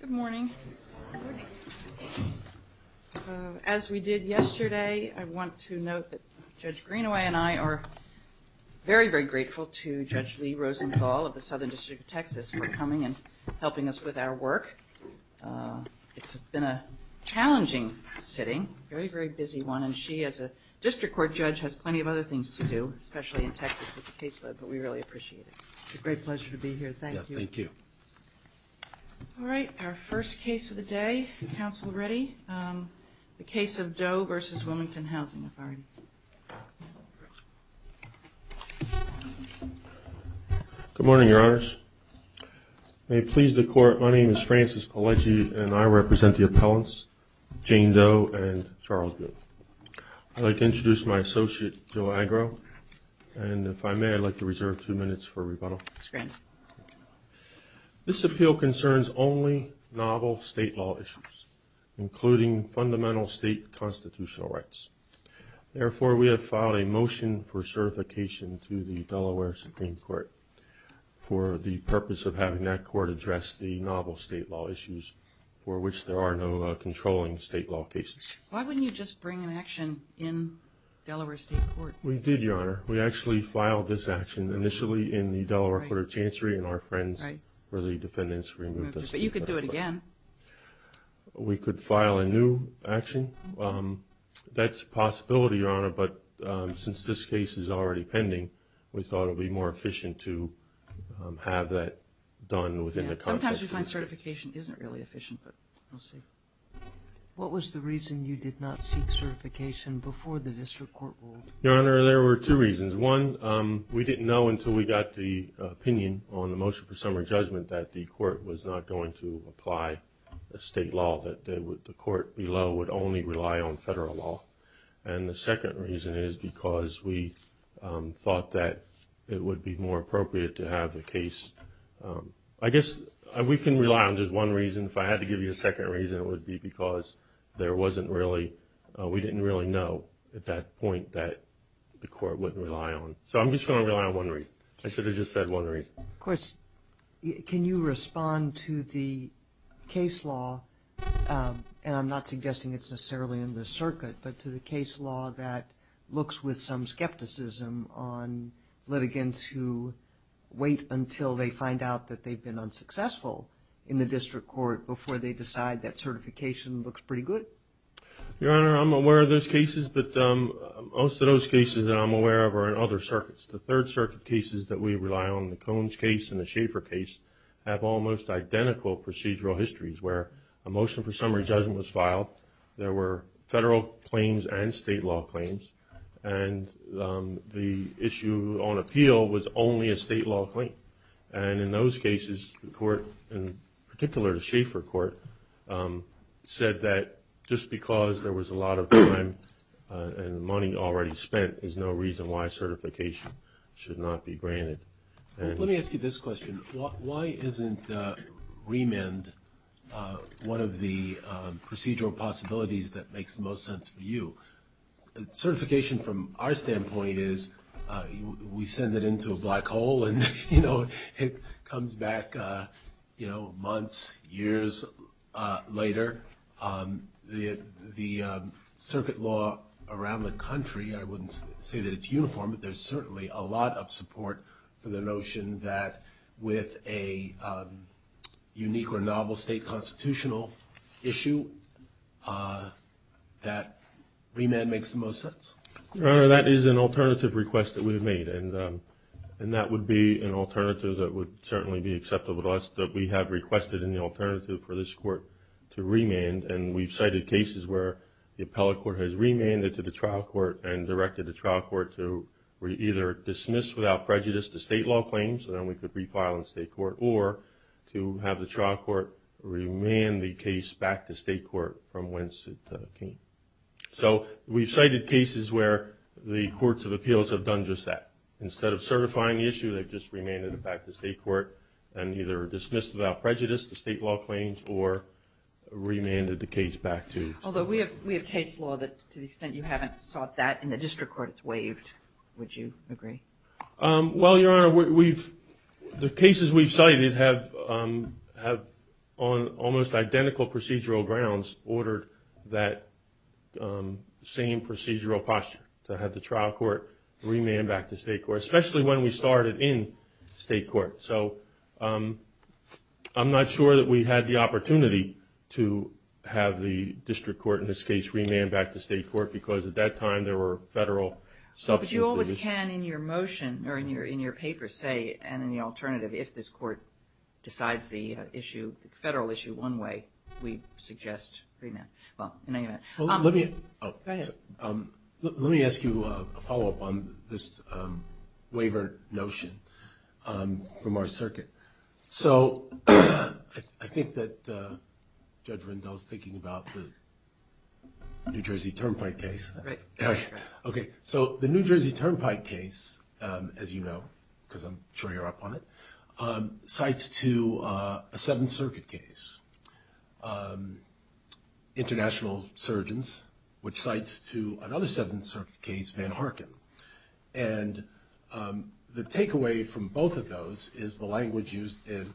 Good morning. As we did yesterday, I want to note that Judge Greenaway and I are very, very grateful to Judge Lee Rosenthal of the Southern District of Texas for coming and helping us with our work. It's been a challenging sitting, a very, very busy one, and she as a district court judge has plenty of other things to do, especially in Texas with the caseload, but we really appreciate it. It's a great pleasure to be here. Thank you. Thank you. All right. Our first case of the day, counsel Reddy, the case of Doe Vs. Wilmington Housing Authority. Good morning, Your Honors. May it please the court, my name is Francis Pelleci and I represent the appellants, Jane Doe and Charles Doe. I'd like to introduce my associate, Joe Agro, and if I may, I'd like to reserve two minutes for rebuttal. That's great. This appeal concerns only novel state law issues, including fundamental state constitutional rights. Therefore, we have filed a motion for certification to the Delaware Supreme Court for the purpose of having that court address the novel state law issues for which there are no controlling state law cases. Why wouldn't you just bring an action in Delaware State Court? We did, Your Honor. We actually filed this action initially in the Delaware Court of Chancery and our friends for the defendants removed us. But you could do it again. We could file a new action. That's a possibility, Your Honor, but since this case is already pending, we thought it would be more efficient to have that done within the context. Sometimes we find certification isn't really efficient, but we'll see. What was the reason you did not seek certification before the district court ruled? Your Honor, there were two reasons. One, we didn't know until we got the opinion on the motion for summary judgment that the court was not going to apply a state law, that the court below would only rely on federal law. And the second reason is because we thought that it would be more appropriate to have the case. I guess we can rely on just one reason. If I had to give you a second reason, it would be because there wasn't really – we didn't really know at that point that the court wouldn't rely on. So I'm just going to rely on one reason. I should have just said one reason. Of course, can you respond to the case law – and I'm not suggesting it's necessarily in the circuit – but to the case law that looks with some skepticism on litigants who wait until they find out that they've been unsuccessful in the district court before they decide that certification looks pretty good? Your Honor, I'm aware of those cases, but most of those cases that I'm aware of are in other circuits. The Third Circuit cases that we rely on, the Coens case and the Schaefer case, have almost identical procedural histories where a motion for summary judgment was filed, there were federal claims and state law claims, and the issue on appeal was only a state law claim. And in those cases, the court, in particular the Schaefer court, said that just because there was a lot of time and money already spent is no reason why certification should not be granted. Let me ask you this question. Why isn't remand one of the procedural possibilities that makes the most sense for you? Certification, from our standpoint, is we send it into a black hole and it comes back months, years later. The circuit law around the country – I wouldn't say that it's uniform, but there's certainly a lot of support for the notion that with a unique or novel state constitutional issue, that remand makes the most sense. Your Honor, that is an alternative request that we have made, and that would be an alternative that would certainly be acceptable to us, that we have requested in the alternative for this court to remand. And we've cited cases where the appellate court has remanded to the trial court and directed the trial court to either dismiss without prejudice the state law claims, so then we could refile in state court, or to have the trial court remand the case back to state court from whence it came. So we've cited cases where the courts of appeals have done just that. Instead of certifying the issue, they've just remanded it back to state court and either dismissed without prejudice the state law claims or remanded the case back to state court. Although we have case law that, to the extent you haven't sought that in the district court, it's waived. Would you agree? Well, Your Honor, the cases we've cited have, on almost identical procedural grounds, ordered that same procedural posture, to have the trial court remand back to state court, especially when we started in state court. So I'm not sure that we had the opportunity to have the district court in this case remand back to state court, because at that time there were federal substitutions. But you always can, in your motion, or in your paper, say, and in the alternative, if this court decides the issue, the federal issue one way, we suggest remand. Well, in any event. Let me ask you a follow-up on this waiver notion from our circuit. So I think that Judge Rendell's thinking about the New Jersey Turnpike case. Right. Okay, so the New Jersey Turnpike case, as you know, because I'm sure you're up on it, cites to a Seventh Circuit case, international surgeons, which cites to another Seventh Circuit case, Van Harken. And the takeaway from both of those is the language used in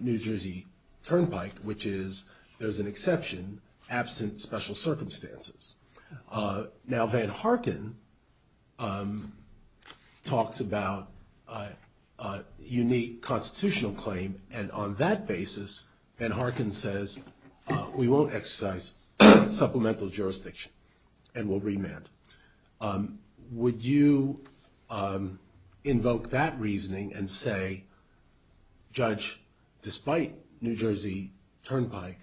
New Jersey Turnpike, which is there's an exception absent special circumstances. Now Van Harken talks about unique constitutional claim, and on that basis, Van Harken says we won't exercise supplemental jurisdiction and we'll remand. Would you invoke that reasoning and say, Judge, despite New Jersey Turnpike,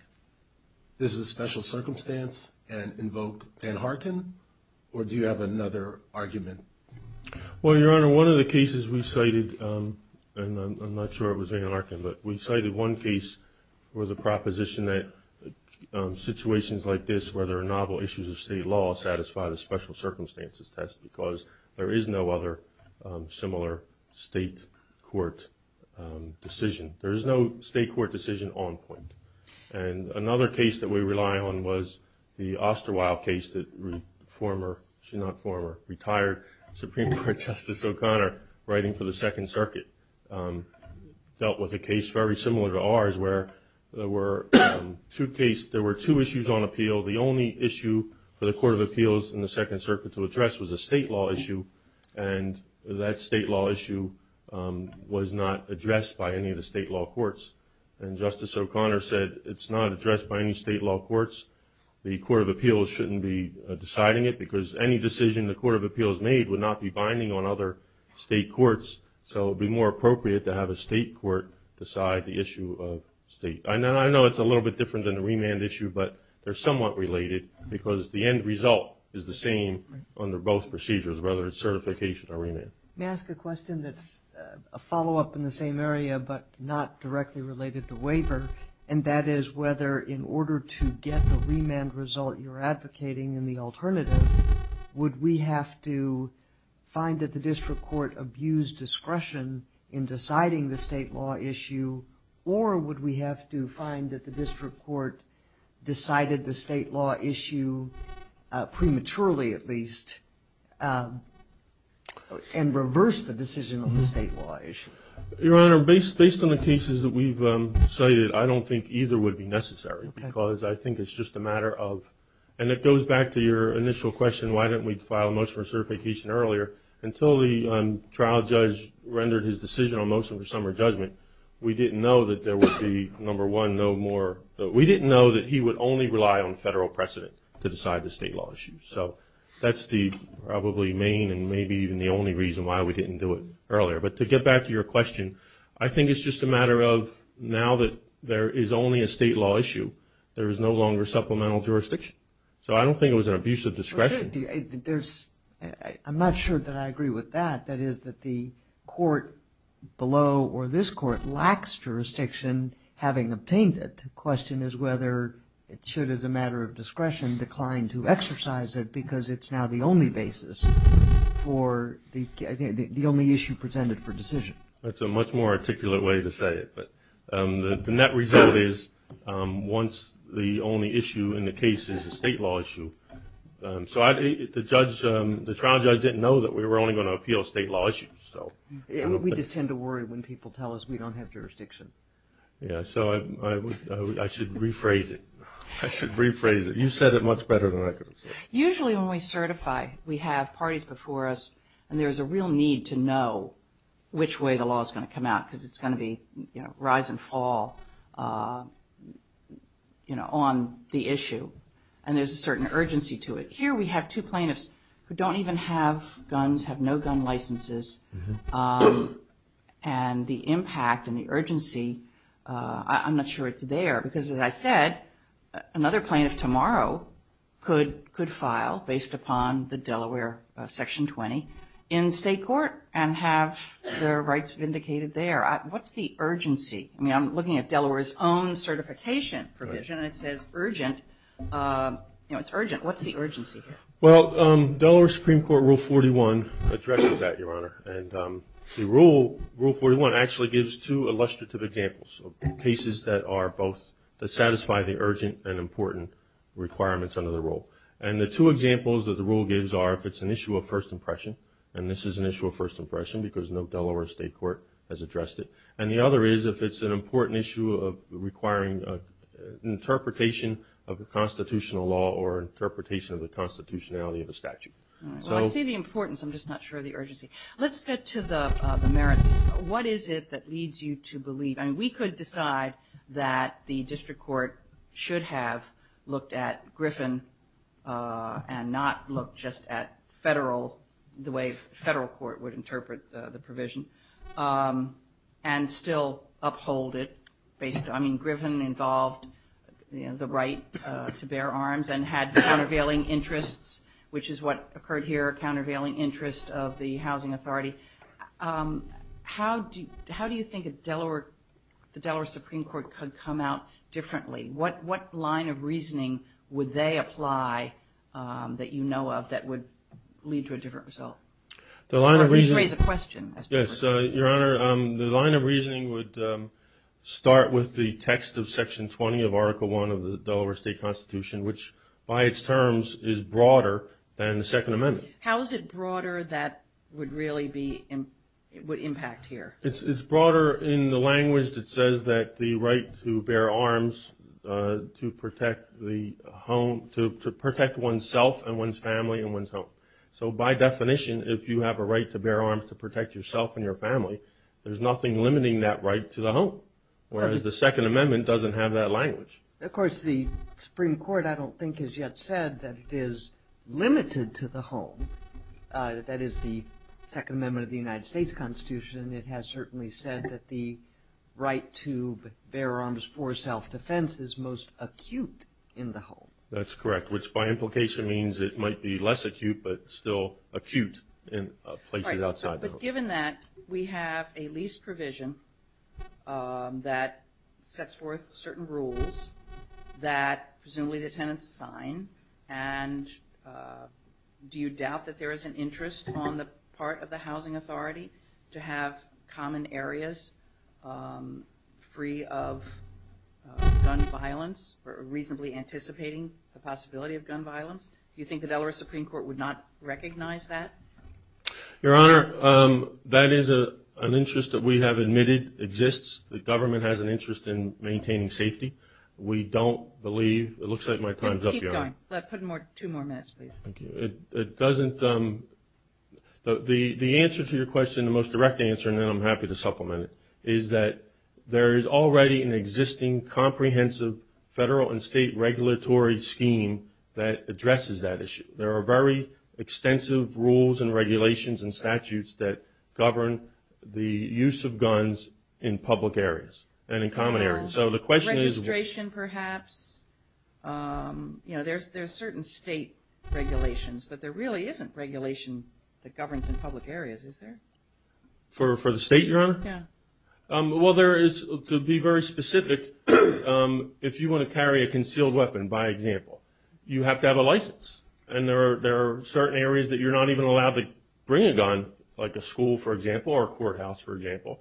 this is a special circumstance, and invoke Van Harken? Or do you have another argument? Well, Your Honor, one of the cases we cited, and I'm not sure it was Van Harken, but we cited one case where the proposition that situations like this, where there are novel issues of state law, satisfy the special circumstances test, because there is no other similar state court decision. There is no state court decision on point. And another case that we rely on was the Osterweil case that former, if not former, retired Supreme Court Justice O'Connor, writing for the Second Circuit, dealt with a case very similar to ours where there were two issues on appeal. The only issue for the Court of Appeals in the Second Circuit to address was a state law issue, and that state law issue was not addressed by any of the state law courts. And Justice O'Connor said it's not addressed by any state law courts. The Court of Appeals shouldn't be deciding it because any decision the Court of Appeals made would not be binding on other state courts, so it would be more appropriate to have a state court decide the issue of state. I know it's a little bit different than the remand issue, but they're somewhat related because the end result is the same under both procedures, whether it's certification or remand. May I ask a question that's a follow-up in the same area but not directly related to waiver, and that is whether in order to get the remand result you're advocating in the alternative, would we have to find that the district court abused discretion in deciding the state law issue, or would we have to find that the district court decided the state law issue prematurely at least and reversed the decision on the state law issue? Your Honor, based on the cases that we've cited, I don't think either would be necessary because I think it's just a matter of, and it goes back to your initial question, why didn't we file a motion for certification earlier, until the trial judge rendered his decision on motion for summary judgment, we didn't know that there would be, number one, no more, we didn't know that he would only rely on federal precedent to decide the state law issue. So that's the probably main and maybe even the only reason why we didn't do it earlier. But to get back to your question, I think it's just a matter of now that there is only a state law issue, there is no longer supplemental jurisdiction. So I don't think it was an abuse of discretion. I'm not sure that I agree with that. That is that the court below or this court lacks jurisdiction having obtained it. The question is whether it should, as a matter of discretion, decline to exercise it because it's now the only basis for the only issue presented for decision. That's a much more articulate way to say it. The net result is once the only issue in the case is a state law issue. So the trial judge didn't know that we were only going to appeal state law issues. We just tend to worry when people tell us we don't have jurisdiction. So I should rephrase it. I should rephrase it. You said it much better than I could have said it. Usually when we certify, we have parties before us, and there is a real need to know which way the law is going to come out because it's going to be rise and fall on the issue. And there's a certain urgency to it. Here we have two plaintiffs who don't even have guns, have no gun licenses. And the impact and the urgency, I'm not sure it's there because, as I said, another plaintiff tomorrow could file based upon the Delaware Section 20 in state court and have their rights vindicated there. What's the urgency? I mean, I'm looking at Delaware's own certification provision, and it says urgent. It's urgent. What's the urgency here? Well, Delaware Supreme Court Rule 41 addresses that, Your Honor. And the Rule 41 actually gives two illustrative examples of cases that are both that satisfy the urgent and important requirements under the rule. And the two examples that the rule gives are if it's an issue of first impression, and this is an issue of first impression because no Delaware state court has addressed it, and the other is if it's an important issue of requiring interpretation of the constitutional law or interpretation of the constitutionality of a statute. All right. Well, I see the importance. I'm just not sure of the urgency. Let's get to the merits. What is it that leads you to believe? I mean, we could decide that the district court should have looked at Griffin and not look just at the way the federal court would interpret the provision and still uphold it. I mean, Griffin involved the right to bear arms and had countervailing interests, which is what occurred here, a countervailing interest of the housing authority. How do you think the Delaware Supreme Court could come out differently? What line of reasoning would they apply that you know of that would lead to a different result? Or at least raise a question. Yes, Your Honor, the line of reasoning would start with the text of Section 20 of Article I of the Delaware State Constitution, which by its terms is broader than the Second Amendment. How is it broader that would really impact here? It's broader in the language that says that the right to bear arms to protect the home, to protect oneself and one's family and one's home. So by definition, if you have a right to bear arms to protect yourself and your family, there's nothing limiting that right to the home, whereas the Second Amendment doesn't have that language. Of course, the Supreme Court, I don't think, has yet said that it is limited to the home. That is the Second Amendment of the United States Constitution. It has certainly said that the right to bear arms for self-defense is most acute in the home. That's correct, which by implication means it might be less acute, but still acute in places outside the home. But given that, we have a lease provision that sets forth certain rules that presumably the tenants sign. And do you doubt that there is an interest on the part of the Housing Authority to have common areas free of gun violence or reasonably anticipating the possibility of gun violence? Do you think the Delaware Supreme Court would not recognize that? Your Honor, that is an interest that we have admitted exists. The government has an interest in maintaining safety. We don't believe – it looks like my time is up, Your Honor. Keep going. Put two more minutes, please. Thank you. It doesn't – the answer to your question, the most direct answer, and then I'm happy to supplement it, is that there is already an existing comprehensive federal and state regulatory scheme that addresses that issue. There are very extensive rules and regulations and statutes that govern the use of guns in public areas and in common areas. So the question is – Registration, perhaps. You know, there's certain state regulations, but there really isn't regulation that governs in public areas, is there? For the state, Your Honor? Yeah. Well, there is – to be very specific, if you want to carry a concealed weapon, by example, you have to have a license. And there are certain areas that you're not even allowed to bring a gun, like a school, for example, or a courthouse, for example.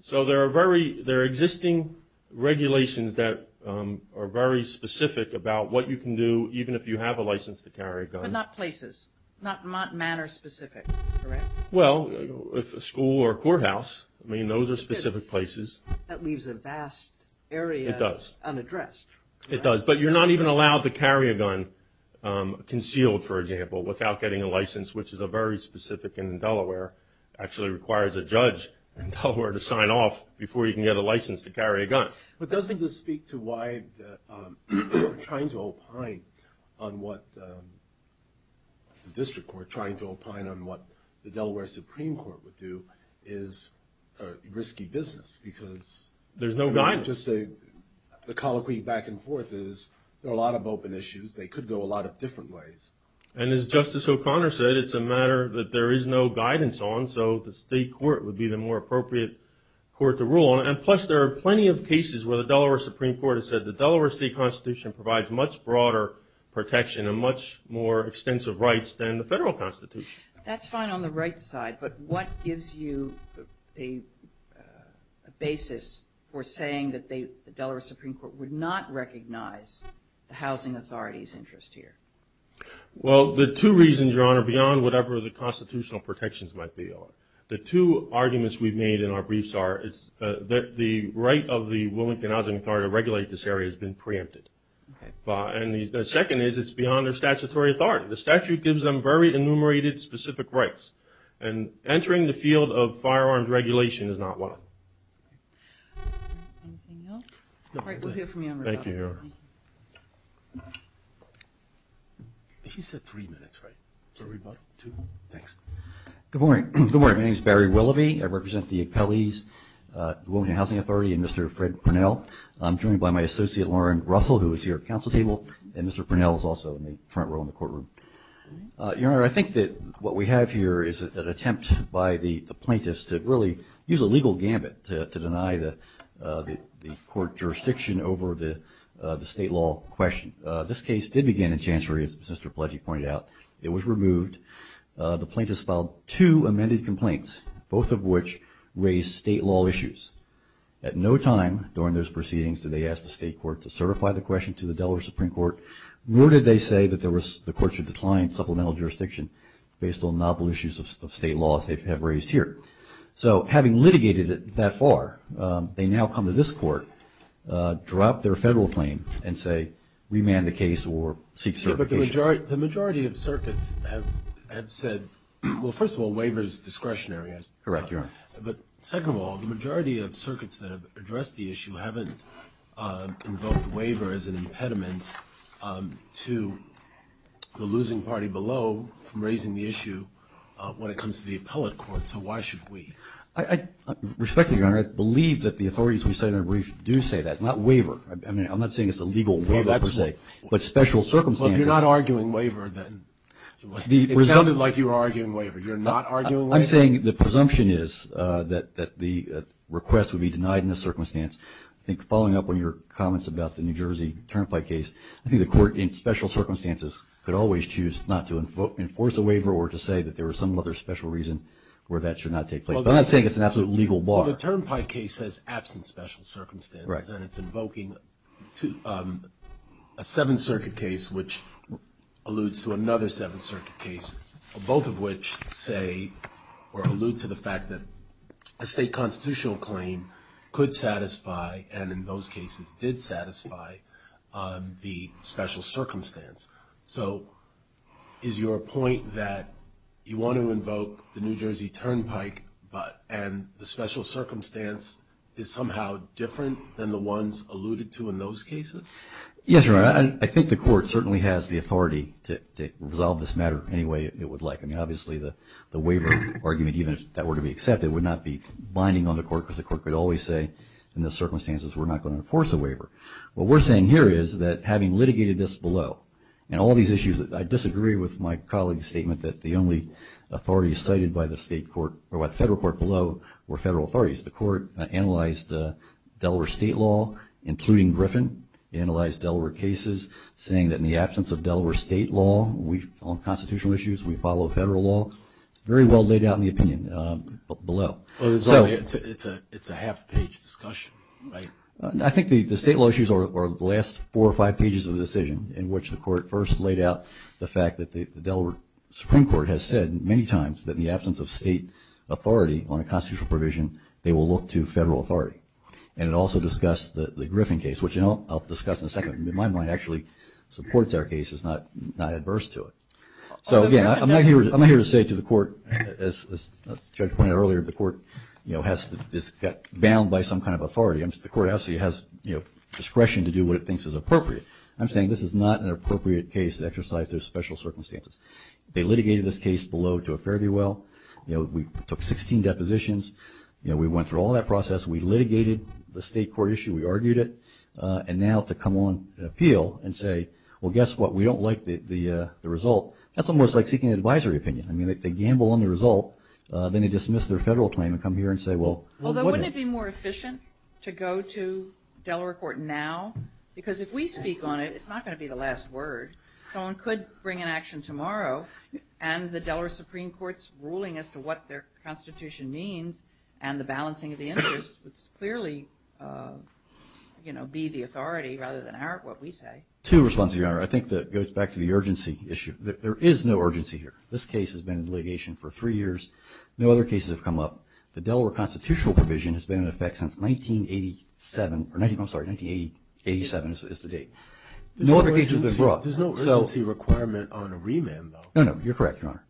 So there are very – there are existing regulations that are very specific about what you can do, even if you have a license to carry a gun. But not places, not matter-specific, correct? Well, if a school or a courthouse, I mean, those are specific places. That leaves a vast area unaddressed. It does. But you're not even allowed to carry a gun, concealed, for example, without getting a license, which is very specific in Delaware. It actually requires a judge in Delaware to sign off before you can get a license to carry a gun. But doesn't this speak to why the court trying to opine on what – the district court trying to opine on what the Delaware Supreme Court would do is a risky business? Because – There's no guidance. Just a – the colloquy back and forth is there are a lot of open issues. They could go a lot of different ways. And as Justice O'Connor said, it's a matter that there is no guidance on, so the state court would be the more appropriate court to rule on. And plus, there are plenty of cases where the Delaware Supreme Court has said the Delaware State Constitution provides much broader protection and much more extensive rights than the federal Constitution. That's fine on the right side, but what gives you a basis for saying that they – the Delaware Supreme Court would not recognize the housing authority's interest here? Well, there are two reasons, Your Honor, beyond whatever the constitutional protections might be on. The two arguments we've made in our briefs are that the right of the Wilmington Housing Authority to regulate this area has been preempted. And the second is it's beyond their statutory authority. The statute gives them very enumerated specific rights. And entering the field of firearms regulation is not one of them. Anything else? Thank you, Your Honor. He said three minutes, right? Thanks. Good morning. My name is Barry Willoughby. I represent the appellees, the Wilmington Housing Authority, and Mr. Fred Purnell. I'm joined by my associate, Lauren Russell, who is here at council table, and Mr. Purnell is also in the front row in the courtroom. Your Honor, I think that what we have here is an attempt by the plaintiffs to really use a legal gambit to deny the court jurisdiction over the state law question. This case did begin in Chancery, as Mr. Pledgey pointed out. It was removed. The plaintiffs filed two amended complaints, both of which raised state law issues. At no time during those proceedings did they ask the state court to certify the question to the Delaware Supreme Court, nor did they say that the court should decline supplemental jurisdiction based on novel issues of state law as they have raised here. So having litigated it that far, they now come to this court, drop their federal claim, and say remand the case or seek certification. But the majority of circuits have said, well, first of all, waiver is discretionary. Correct, Your Honor. But second of all, the majority of circuits that have addressed the issue haven't invoked waiver as an impediment to the losing party below from raising the issue when it comes to the appellate court. So why should we? Respectfully, Your Honor, I believe that the authorities in the Senate do say that, not waiver. I'm not saying it's a legal waiver per se, but special circumstances. Well, you're not arguing waiver then. It sounded like you were arguing waiver. You're not arguing waiver? I'm saying the presumption is that the request would be denied in this circumstance. I think following up on your comments about the New Jersey Turnpike case, I think the court in special circumstances could always choose not to enforce a waiver or to say that there was some other special reason where that should not take place. But I'm not saying it's an absolute legal bar. Well, the Turnpike case says absent special circumstances, and it's invoking a Seventh Circuit case which alludes to another Seventh Circuit case, both of which say or allude to the fact that a state constitutional claim could satisfy and in those cases did satisfy the special circumstance. So is your point that you want to invoke the New Jersey Turnpike and the special circumstance is somehow different than the ones alluded to in those cases? Yes, Your Honor. I think the court certainly has the authority to resolve this matter any way it would like. I mean, obviously, the waiver argument, even if that were to be accepted, would not be binding on the court because the court could always say in those circumstances we're not going to enforce a waiver. What we're saying here is that having litigated this below and all these issues, I disagree with my colleague's statement that the only authorities cited by the state court or by the federal court below were federal authorities. The court analyzed Delaware state law, including Griffin, analyzed Delaware cases, saying that in the absence of Delaware state law, on constitutional issues, we follow federal law. It's very well laid out in the opinion below. It's a half-page discussion, right? I think the state law issues are the last four or five pages of the decision in which the court first laid out the fact that the Delaware Supreme Court has said many times that in the absence of state authority on a constitutional provision, they will look to federal authority. And it also discussed the Griffin case, which I'll discuss in a second. In my mind, it actually supports our case. It's not adverse to it. So, again, I'm not here to say to the court, as the judge pointed out earlier, the court has got bound by some kind of authority. The court obviously has discretion to do what it thinks is appropriate. I'm saying this is not an appropriate case to exercise those special circumstances. They litigated this case below to a fairly well. We took 16 depositions. We went through all that process. We litigated the state court issue. We argued it. And now to come on and appeal and say, well, guess what, we don't like the result, that's almost like seeking an advisory opinion. I mean, they gamble on the result. Then they dismiss their federal claim and come here and say, well, wouldn't it be more efficient to go to Delaware court now? Because if we speak on it, it's not going to be the last word. Someone could bring an action tomorrow, and the Delaware Supreme Court's ruling as to what their Constitution means and the balancing of the interests would clearly be the authority rather than what we say. Two responses, Your Honor. I think that goes back to the urgency issue. There is no urgency here. This case has been in litigation for three years. No other cases have come up. The Delaware constitutional provision has been in effect since 1987. I'm sorry, 1987 is the date. No other cases have been brought. There's no urgency requirement on a remand, though. No, no. You're correct, Your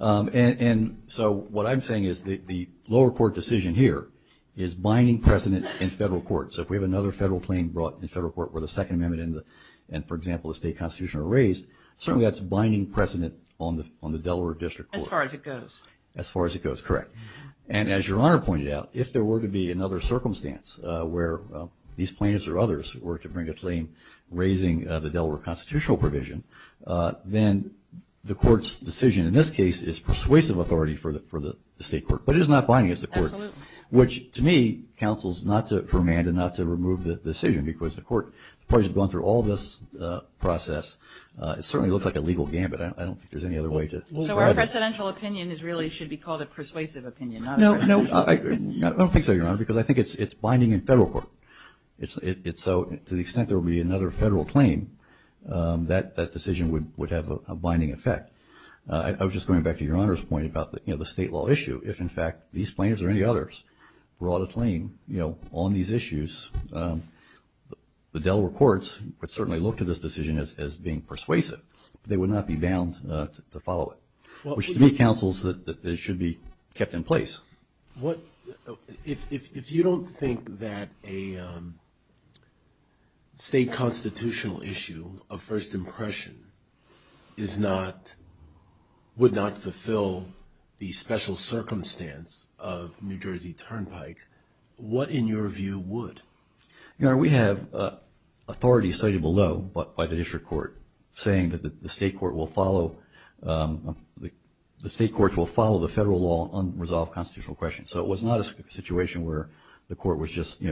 Honor. And so what I'm saying is the lower court decision here is binding precedent in federal court. So if we have another federal claim brought in federal court where the Second Amendment and, for example, the state constitution are raised, certainly that's binding precedent on the Delaware district court. As far as it goes. As far as it goes, correct. And as Your Honor pointed out, if there were to be another circumstance where these plaintiffs or others were to bring a claim raising the Delaware constitutional provision, then the court's decision in this case is persuasive authority for the state court. But it is not binding as the court. Absolutely. Which, to me, counsels not to remand and not to remove the decision because the court has gone through all this process. It certainly looks like a legal gambit. I don't think there's any other way to look at it. So our precedential opinion really should be called a persuasive opinion, not a persuasive opinion. I don't think so, Your Honor, because I think it's binding in federal court. So to the extent there will be another federal claim, that decision would have a binding effect. I was just going back to Your Honor's point about the state law issue. If, in fact, these plaintiffs or any others brought a claim on these issues, the Delaware courts would certainly look to this decision as being persuasive. They would not be bound to follow it, which to me counsels that it should be kept in place. If you don't think that a state constitutional issue of first impression would not fulfill the special circumstance of New Jersey Turnpike, what, in your view, would? Your Honor, we have authority cited below by the district court saying that the state court will follow the federal law on unresolved constitutional questions. So it was not a situation where the court was just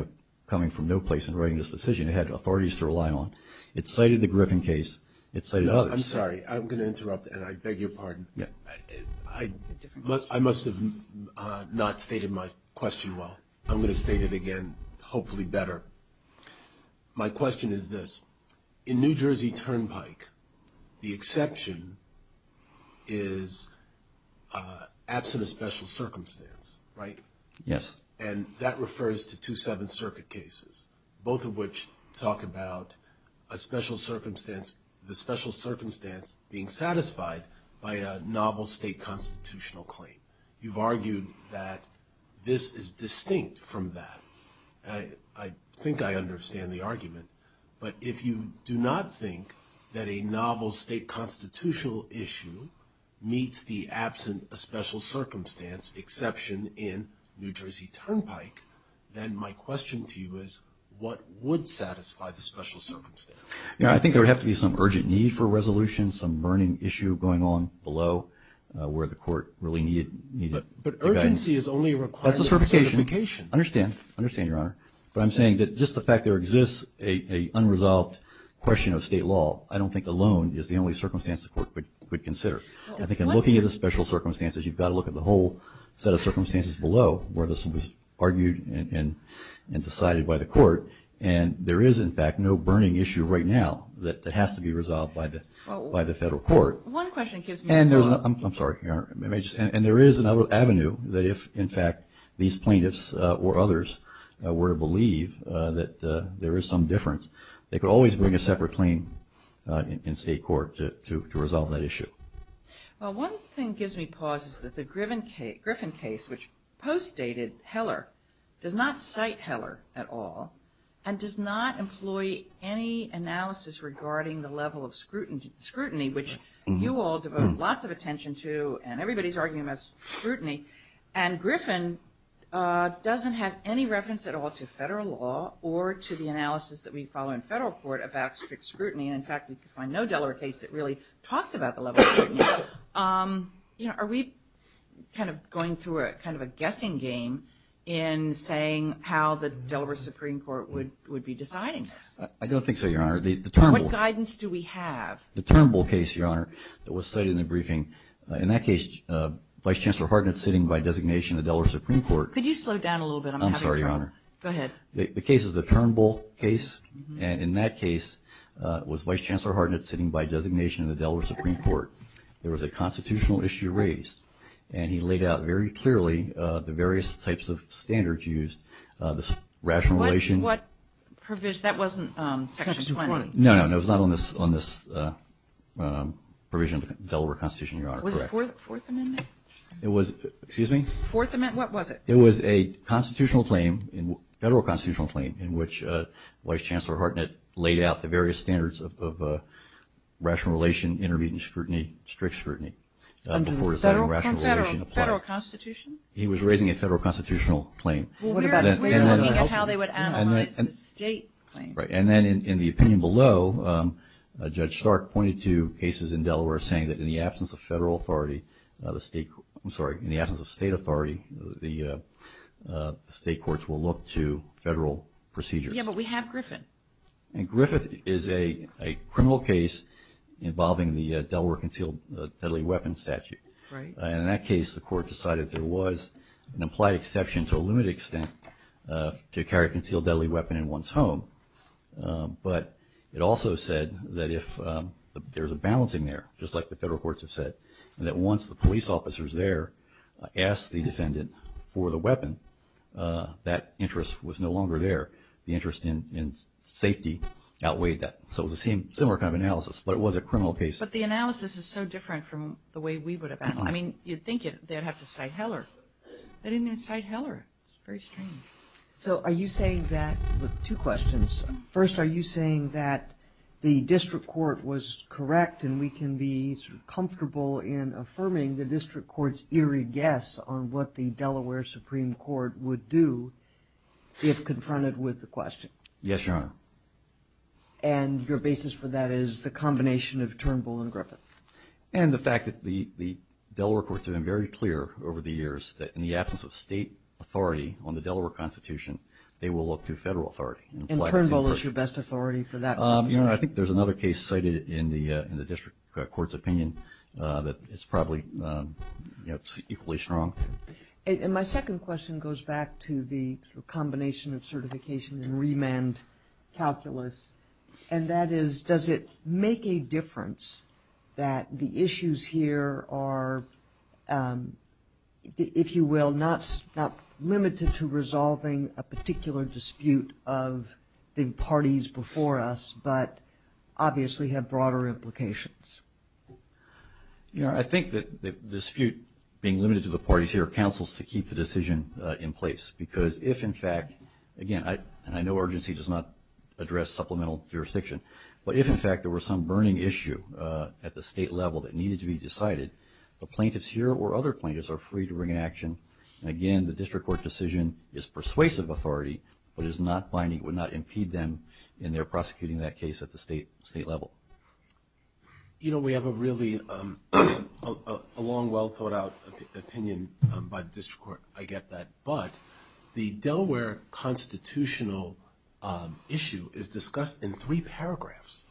coming from no place in writing this decision. It had authorities to rely on. It cited the Griffin case. It cited others. No, I'm sorry. I'm going to interrupt, and I beg your pardon. I must have not stated my question well. I'm going to state it again, hopefully better. My question is this. In New Jersey Turnpike, the exception is absent of special circumstance, right? Yes. And that refers to two Seventh Circuit cases, both of which talk about a special circumstance, the special circumstance being satisfied by a novel state constitutional claim. You've argued that this is distinct from that. I think I understand the argument. But if you do not think that a novel state constitutional issue meets the absent of special circumstance exception in New Jersey Turnpike, then my question to you is what would satisfy the special circumstance? I think there would have to be some urgent need for resolution, some burning issue going on below where the court really needed guidance. But urgency is only a requirement. That's a certification. I understand. I understand, Your Honor. But I'm saying that just the fact there exists an unresolved question of state law, I don't think alone is the only circumstance the court could consider. I think in looking at the special circumstances, you've got to look at the whole set of circumstances below where this was argued and decided by the court. And there is, in fact, no burning issue right now that has to be resolved by the federal court. One question gives me a clue. I'm sorry, Your Honor. And there is another avenue that if, in fact, these plaintiffs or others were to believe that there is some difference, they could always bring a separate claim in state court to resolve that issue. Well, one thing gives me pause is that the Griffin case, which post-dated Heller, does not cite Heller at all and does not employ any analysis regarding the level of scrutiny, which you all devote lots of attention to and everybody is arguing about scrutiny. And Griffin doesn't have any reference at all to federal law or to the analysis that we follow in federal court about strict scrutiny. And, in fact, we can find no Delaware case that really talks about the level of scrutiny. Are we kind of going through kind of a guessing game in saying how the Delaware Supreme Court would be deciding this? I don't think so, Your Honor. What guidance do we have? The Turnbull case, Your Honor, that was cited in the briefing, in that case Vice Chancellor Hartnett sitting by designation of the Delaware Supreme Court. Could you slow down a little bit? I'm having trouble. I'm sorry, Your Honor. Go ahead. The case is the Turnbull case. And in that case was Vice Chancellor Hartnett sitting by designation of the Delaware Supreme Court. There was a constitutional issue raised. And he laid out very clearly the various types of standards used, the rationalization. What provision? That wasn't Section 20. No, no, no. It was not on this provision of the Delaware Constitution, Your Honor. Was it Fourth Amendment? Excuse me? Fourth Amendment, what was it? It was a constitutional claim, federal constitutional claim, in which Vice Chancellor Hartnett laid out the various standards of rationalization, intermediate scrutiny, strict scrutiny. Under the federal constitution? He was raising a federal constitutional claim. Well, we were looking at how they would analyze the state claim. Right. And then in the opinion below, Judge Stark pointed to cases in Delaware saying that in the absence of federal authority, I'm sorry, in the absence of state authority, the state courts will look to federal procedures. Yeah, but we have Griffith. And Griffith is a criminal case involving the Delaware concealed deadly weapon statute. Right. And in that case, the court decided there was an implied exception to a limited extent to carry a concealed deadly weapon in one's home. But it also said that if there's a balancing there, just like the federal courts have said, and that once the police officers there asked the defendant for the weapon, that interest was no longer there. The interest in safety outweighed that. So it was a similar kind of analysis, but it was a criminal case. But the analysis is so different from the way we would have analyzed it. I mean, you'd think they'd have to cite Heller. They didn't even cite Heller. It's very strange. So are you saying that with two questions? First, are you saying that the district court was correct and we can be sort of comfortable in affirming the district court's eerie guess on what the Delaware Supreme Court would do if confronted with the question? Yes, Your Honor. And your basis for that is the combination of Turnbull and Griffith. And the fact that the Delaware courts have been very clear over the years that in the absence of state authority on the Delaware Constitution, they will look to federal authority. And Turnbull is your best authority for that? Your Honor, I think there's another case cited in the district court's opinion that is probably equally strong. And my second question goes back to the combination of certification and remand calculus, and that is does it make a difference that the issues here are, if you will, not limited to resolving a particular dispute of the parties before us, but obviously have broader implications? Your Honor, I think that the dispute being limited to the parties here counsels to keep the decision in place because if, in fact, again, and I know urgency does not address supplemental jurisdiction, but if, in fact, there were some burning issue at the state level that needed to be decided, the plaintiffs here or other plaintiffs are free to bring an action. And again, the district court decision is persuasive authority, but would not impede them in their prosecuting that case at the state level. You know, we have a really long, well-thought-out opinion by the district court. I get that. But the Delaware constitutional issue is discussed in three paragraphs,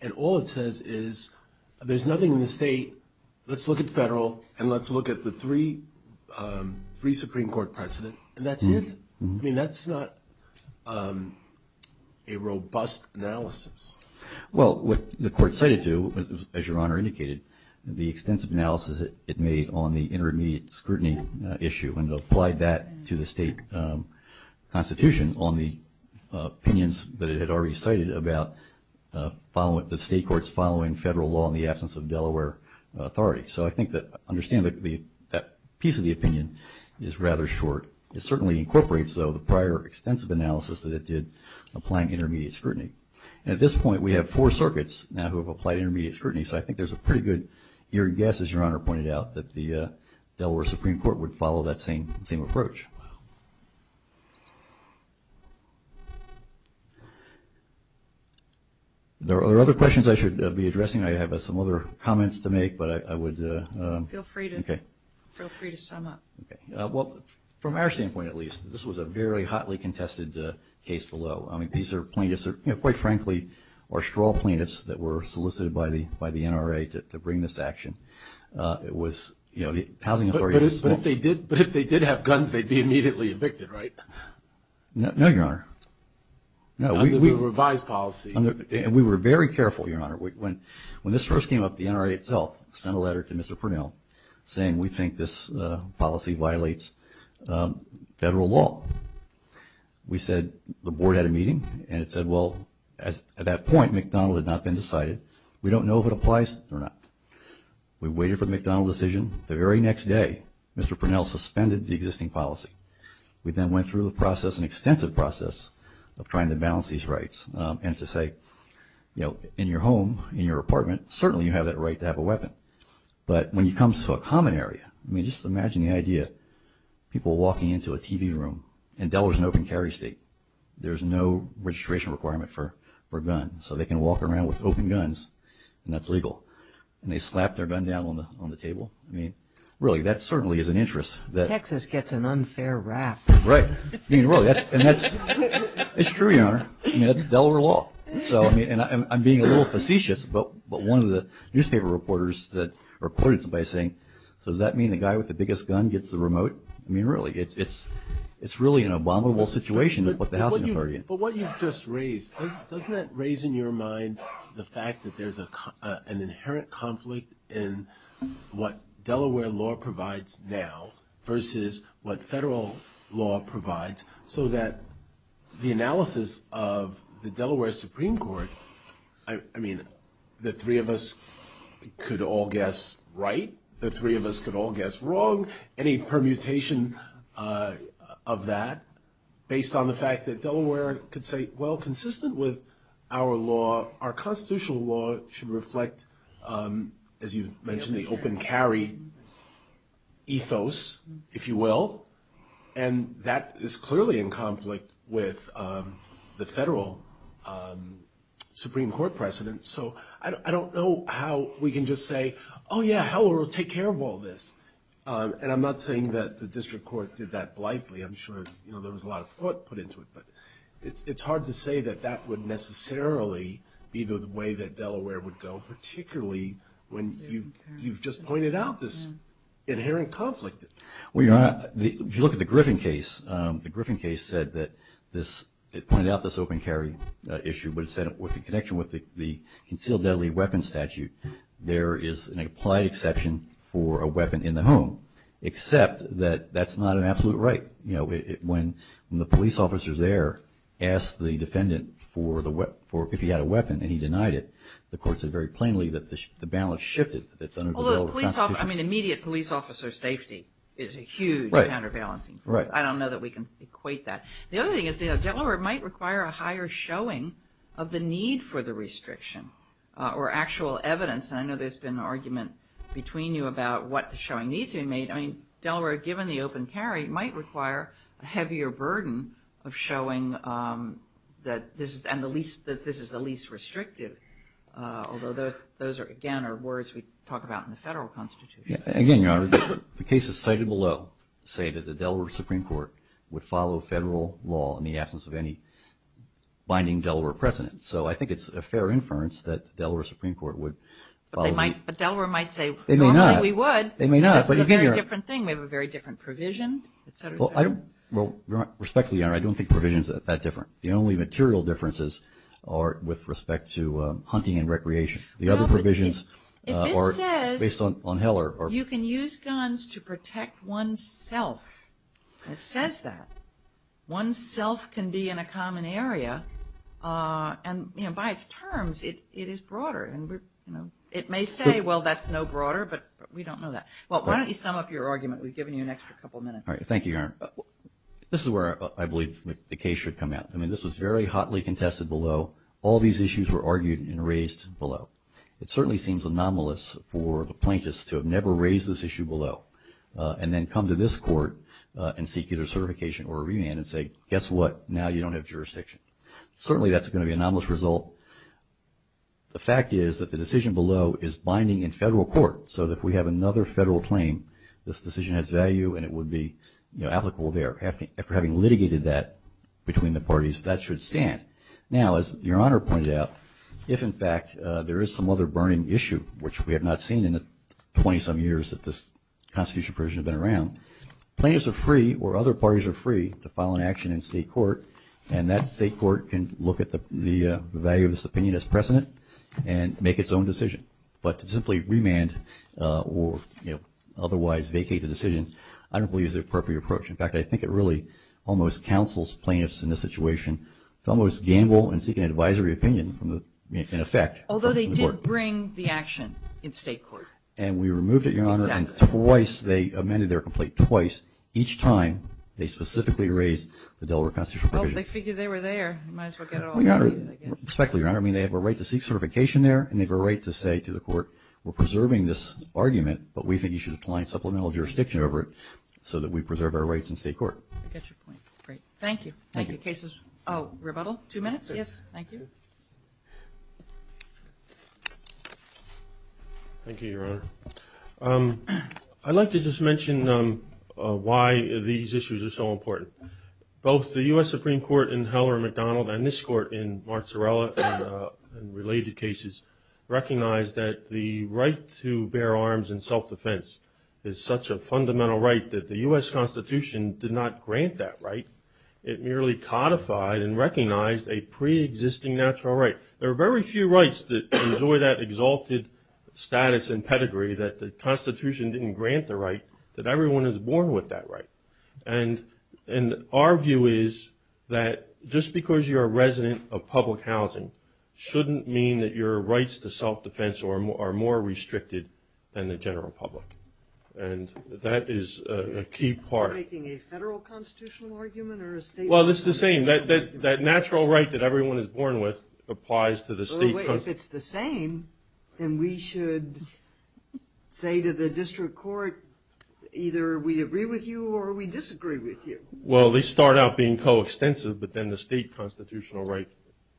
and all it says is there's nothing in the state, let's look at federal, and let's look at the three Supreme Court precedent, and that's it. I mean, that's not a robust analysis. Well, what the court cited to, as Your Honor indicated, the extensive analysis it made on the intermediate scrutiny issue when it applied that to the state constitution on the opinions that it had already cited about the state courts following federal law in the absence of Delaware authority. So I think that understanding that piece of the opinion is rather short. It certainly incorporates, though, the prior extensive analysis that it did applying intermediate scrutiny. And at this point we have four circuits now who have applied intermediate scrutiny, so I think there's a pretty good guess, as Your Honor pointed out, that the Delaware Supreme Court would follow that same approach. Are there other questions I should be addressing? I have some other comments to make, but I would ‑‑ Feel free to sum up. Okay. Well, from our standpoint at least, this was a very hotly contested case below. I mean, these are plaintiffs that, quite frankly, are straw plaintiffs that were solicited by the NRA to bring this action. It was ‑‑ But if they did have guns, they'd be immediately evicted, right? No, Your Honor. Under the revised policy. We were very careful, Your Honor. When this first came up, the NRA itself sent a letter to Mr. Pernell saying, we think this policy violates federal law. We said, the board had a meeting, and it said, well, at that point McDonald had not been decided. We don't know if it applies or not. We waited for the McDonald decision. The very next day, Mr. Pernell suspended the existing policy. We then went through the process, an extensive process, of trying to balance these rights and to say, you know, in your home, in your apartment, certainly you have that right to have a weapon. But when it comes to a common area, I mean, just imagine the idea of people walking into a TV room, and Delaware's an open carry state. There's no registration requirement for guns, so they can walk around with open guns, and that's legal. And they slap their gun down on the table. I mean, really, that certainly is an interest. Texas gets an unfair rap. Right. I mean, really, and that's true, Your Honor. I mean, that's Delaware law. And I'm being a little facetious, but one of the newspaper reporters reported somebody saying, so does that mean the guy with the biggest gun gets the remote? I mean, really, it's really an abominable situation to put the housing authority in. But what you've just raised, doesn't that raise in your mind the fact that there's an inherent conflict in what Delaware law provides now versus what federal law provides, so that the analysis of the Delaware Supreme Court, I mean, the three of us could all guess right, the three of us could all guess wrong, any permutation of that based on the fact that Delaware could say, well, consistent with our law, our constitutional law should reflect, as you mentioned, the open carry ethos, if you will. And that is clearly in conflict with the federal Supreme Court precedent. So I don't know how we can just say, oh, yeah, Delaware will take care of all this. And I'm not saying that the district court did that blithely. I'm sure there was a lot of thought put into it. But it's hard to say that that would necessarily be the way that Delaware would go, particularly when you've just pointed out this inherent conflict. Well, if you look at the Griffin case, the Griffin case said that it pointed out this open carry issue, but it said with the connection with the concealed deadly weapons statute, there is an applied exception for a weapon in the home, except that that's not an absolute right. When the police officers there asked the defendant if he had a weapon and he denied it, the court said very plainly that the balance shifted. I mean, immediate police officer safety is a huge counterbalancing. I don't know that we can equate that. The other thing is Delaware might require a higher showing of the need for the restriction or actual evidence. And I know there's been an argument between you about what the showing needs to be made. I mean, Delaware, given the open carry, might require a heavier burden of showing that this is the least restrictive, although those, again, are words we talk about in the federal constitution. Again, Your Honor, the cases cited below say that the Delaware Supreme Court would follow federal law in the absence of any binding Delaware precedent. So I think it's a fair inference that the Delaware Supreme Court would follow. But Delaware might say, normally we would. They may not. This is a very different thing. We have a very different provision, et cetera, et cetera. Well, respectfully, Your Honor, I don't think provisions are that different. The only material differences are with respect to hunting and recreation. The other provisions are based on Heller. You can use guns to protect oneself. It says that. One's self can be in a common area, and by its terms, it is broader. And it may say, well, that's no broader, but we don't know that. Well, why don't you sum up your argument? We've given you an extra couple of minutes. Thank you, Your Honor. This is where I believe the case should come out. I mean, this was very hotly contested below. All these issues were argued and raised below. It certainly seems anomalous for the plaintiffs to have never raised this issue below and then come to this court and seek either certification or a remand and say, guess what, now you don't have jurisdiction. Certainly that's going to be an anomalous result. The fact is that the decision below is binding in federal court, so that if we have another federal claim, this decision has value and it would be applicable there. After having litigated that between the parties, that should stand. Now, as Your Honor pointed out, if, in fact, there is some other burning issue, which we have not seen in the 20-some years that this Constitution provision has been around, plaintiffs are free or other parties are free to file an action in state court, and that state court can look at the value of this opinion as precedent and make its own decision. But to simply remand or, you know, otherwise vacate the decision, I don't believe is the appropriate approach. In fact, I think it really almost counsels plaintiffs in this situation to almost gamble and seek an advisory opinion in effect. Although they did bring the action in state court. And we removed it, Your Honor. Exactly. And twice they amended their complaint, twice, each time they specifically raised the Delaware constitutional provision. Well, they figured they were there. Might as well get it all over with, I guess. Respectfully, Your Honor, I mean, they have a right to seek certification there and they have a right to say to the court, we're preserving this argument, but we think you should apply supplemental jurisdiction over it so that we preserve our rights in state court. I get your point. Great. Thank you. Thank you. Cases? Oh, rebuttal? Two minutes? Yes. Thank you. Thank you, Your Honor. I'd like to just mention why these issues are so important. Both the U.S. Supreme Court in Heller and McDonald and this court in Marzarella and related cases recognize that the right to bear arms in self-defense is such a fundamental right that the U.S. Constitution did not grant that right. It merely codified and recognized a preexisting natural right. There are very few rights that enjoy that exalted status and pedigree that the Constitution didn't grant the right that everyone is born with that right. And our view is that just because you're a resident of public housing shouldn't mean that your rights to self-defense are more restricted than the general public. And that is a key part. Are you making a federal constitutional argument or a state constitutional argument? Well, it's the same. That natural right that everyone is born with applies to the state constitution. If it's the same, then we should say to the district court, either we agree with you or we disagree with you. Well, they start out being coextensive, but then the state constitutional right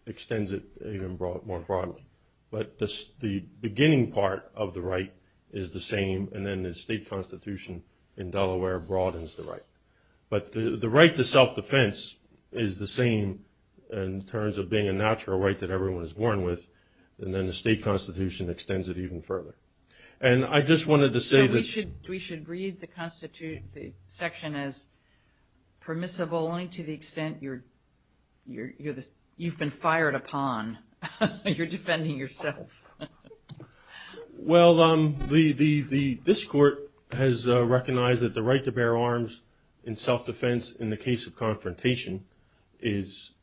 extends it even more broadly. But the beginning part of the right is the same, and then the state constitution in Delaware broadens the right. But the right to self-defense is the same in terms of being a natural right that everyone is born with, and then the state constitution extends it even further. So we should read the section as permissible only to the extent you've been fired upon. You're defending yourself. Well, this court has recognized that the right to bear arms in self-defense in the case of confrontation is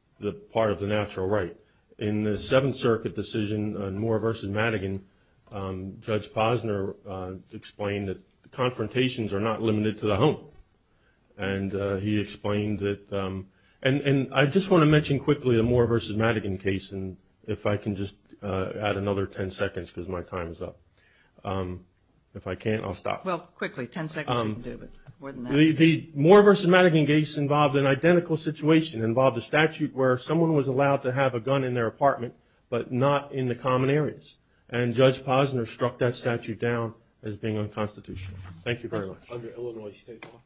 part of the natural right. In the Seventh Circuit decision on Moore v. Madigan, Judge Posner explained that confrontations are not limited to the home. And he explained that the – and I just want to mention quickly the Moore v. Madigan case, and if I can just add another 10 seconds because my time is up. If I can't, I'll stop. Well, quickly, 10 seconds would do, but more than that. The Moore v. Madigan case involved an identical situation, involved a statute where someone was allowed to have a gun in their apartment but not in the common areas. And Judge Posner struck that statute down as being unconstitutional. Thank you very much. Under Illinois state law?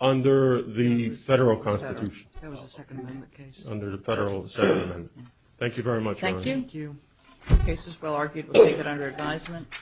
Under the federal constitution. That was a Second Amendment case. Under the federal Second Amendment. Thank you very much. Thank you. The case is well argued. We'll take it under advisement.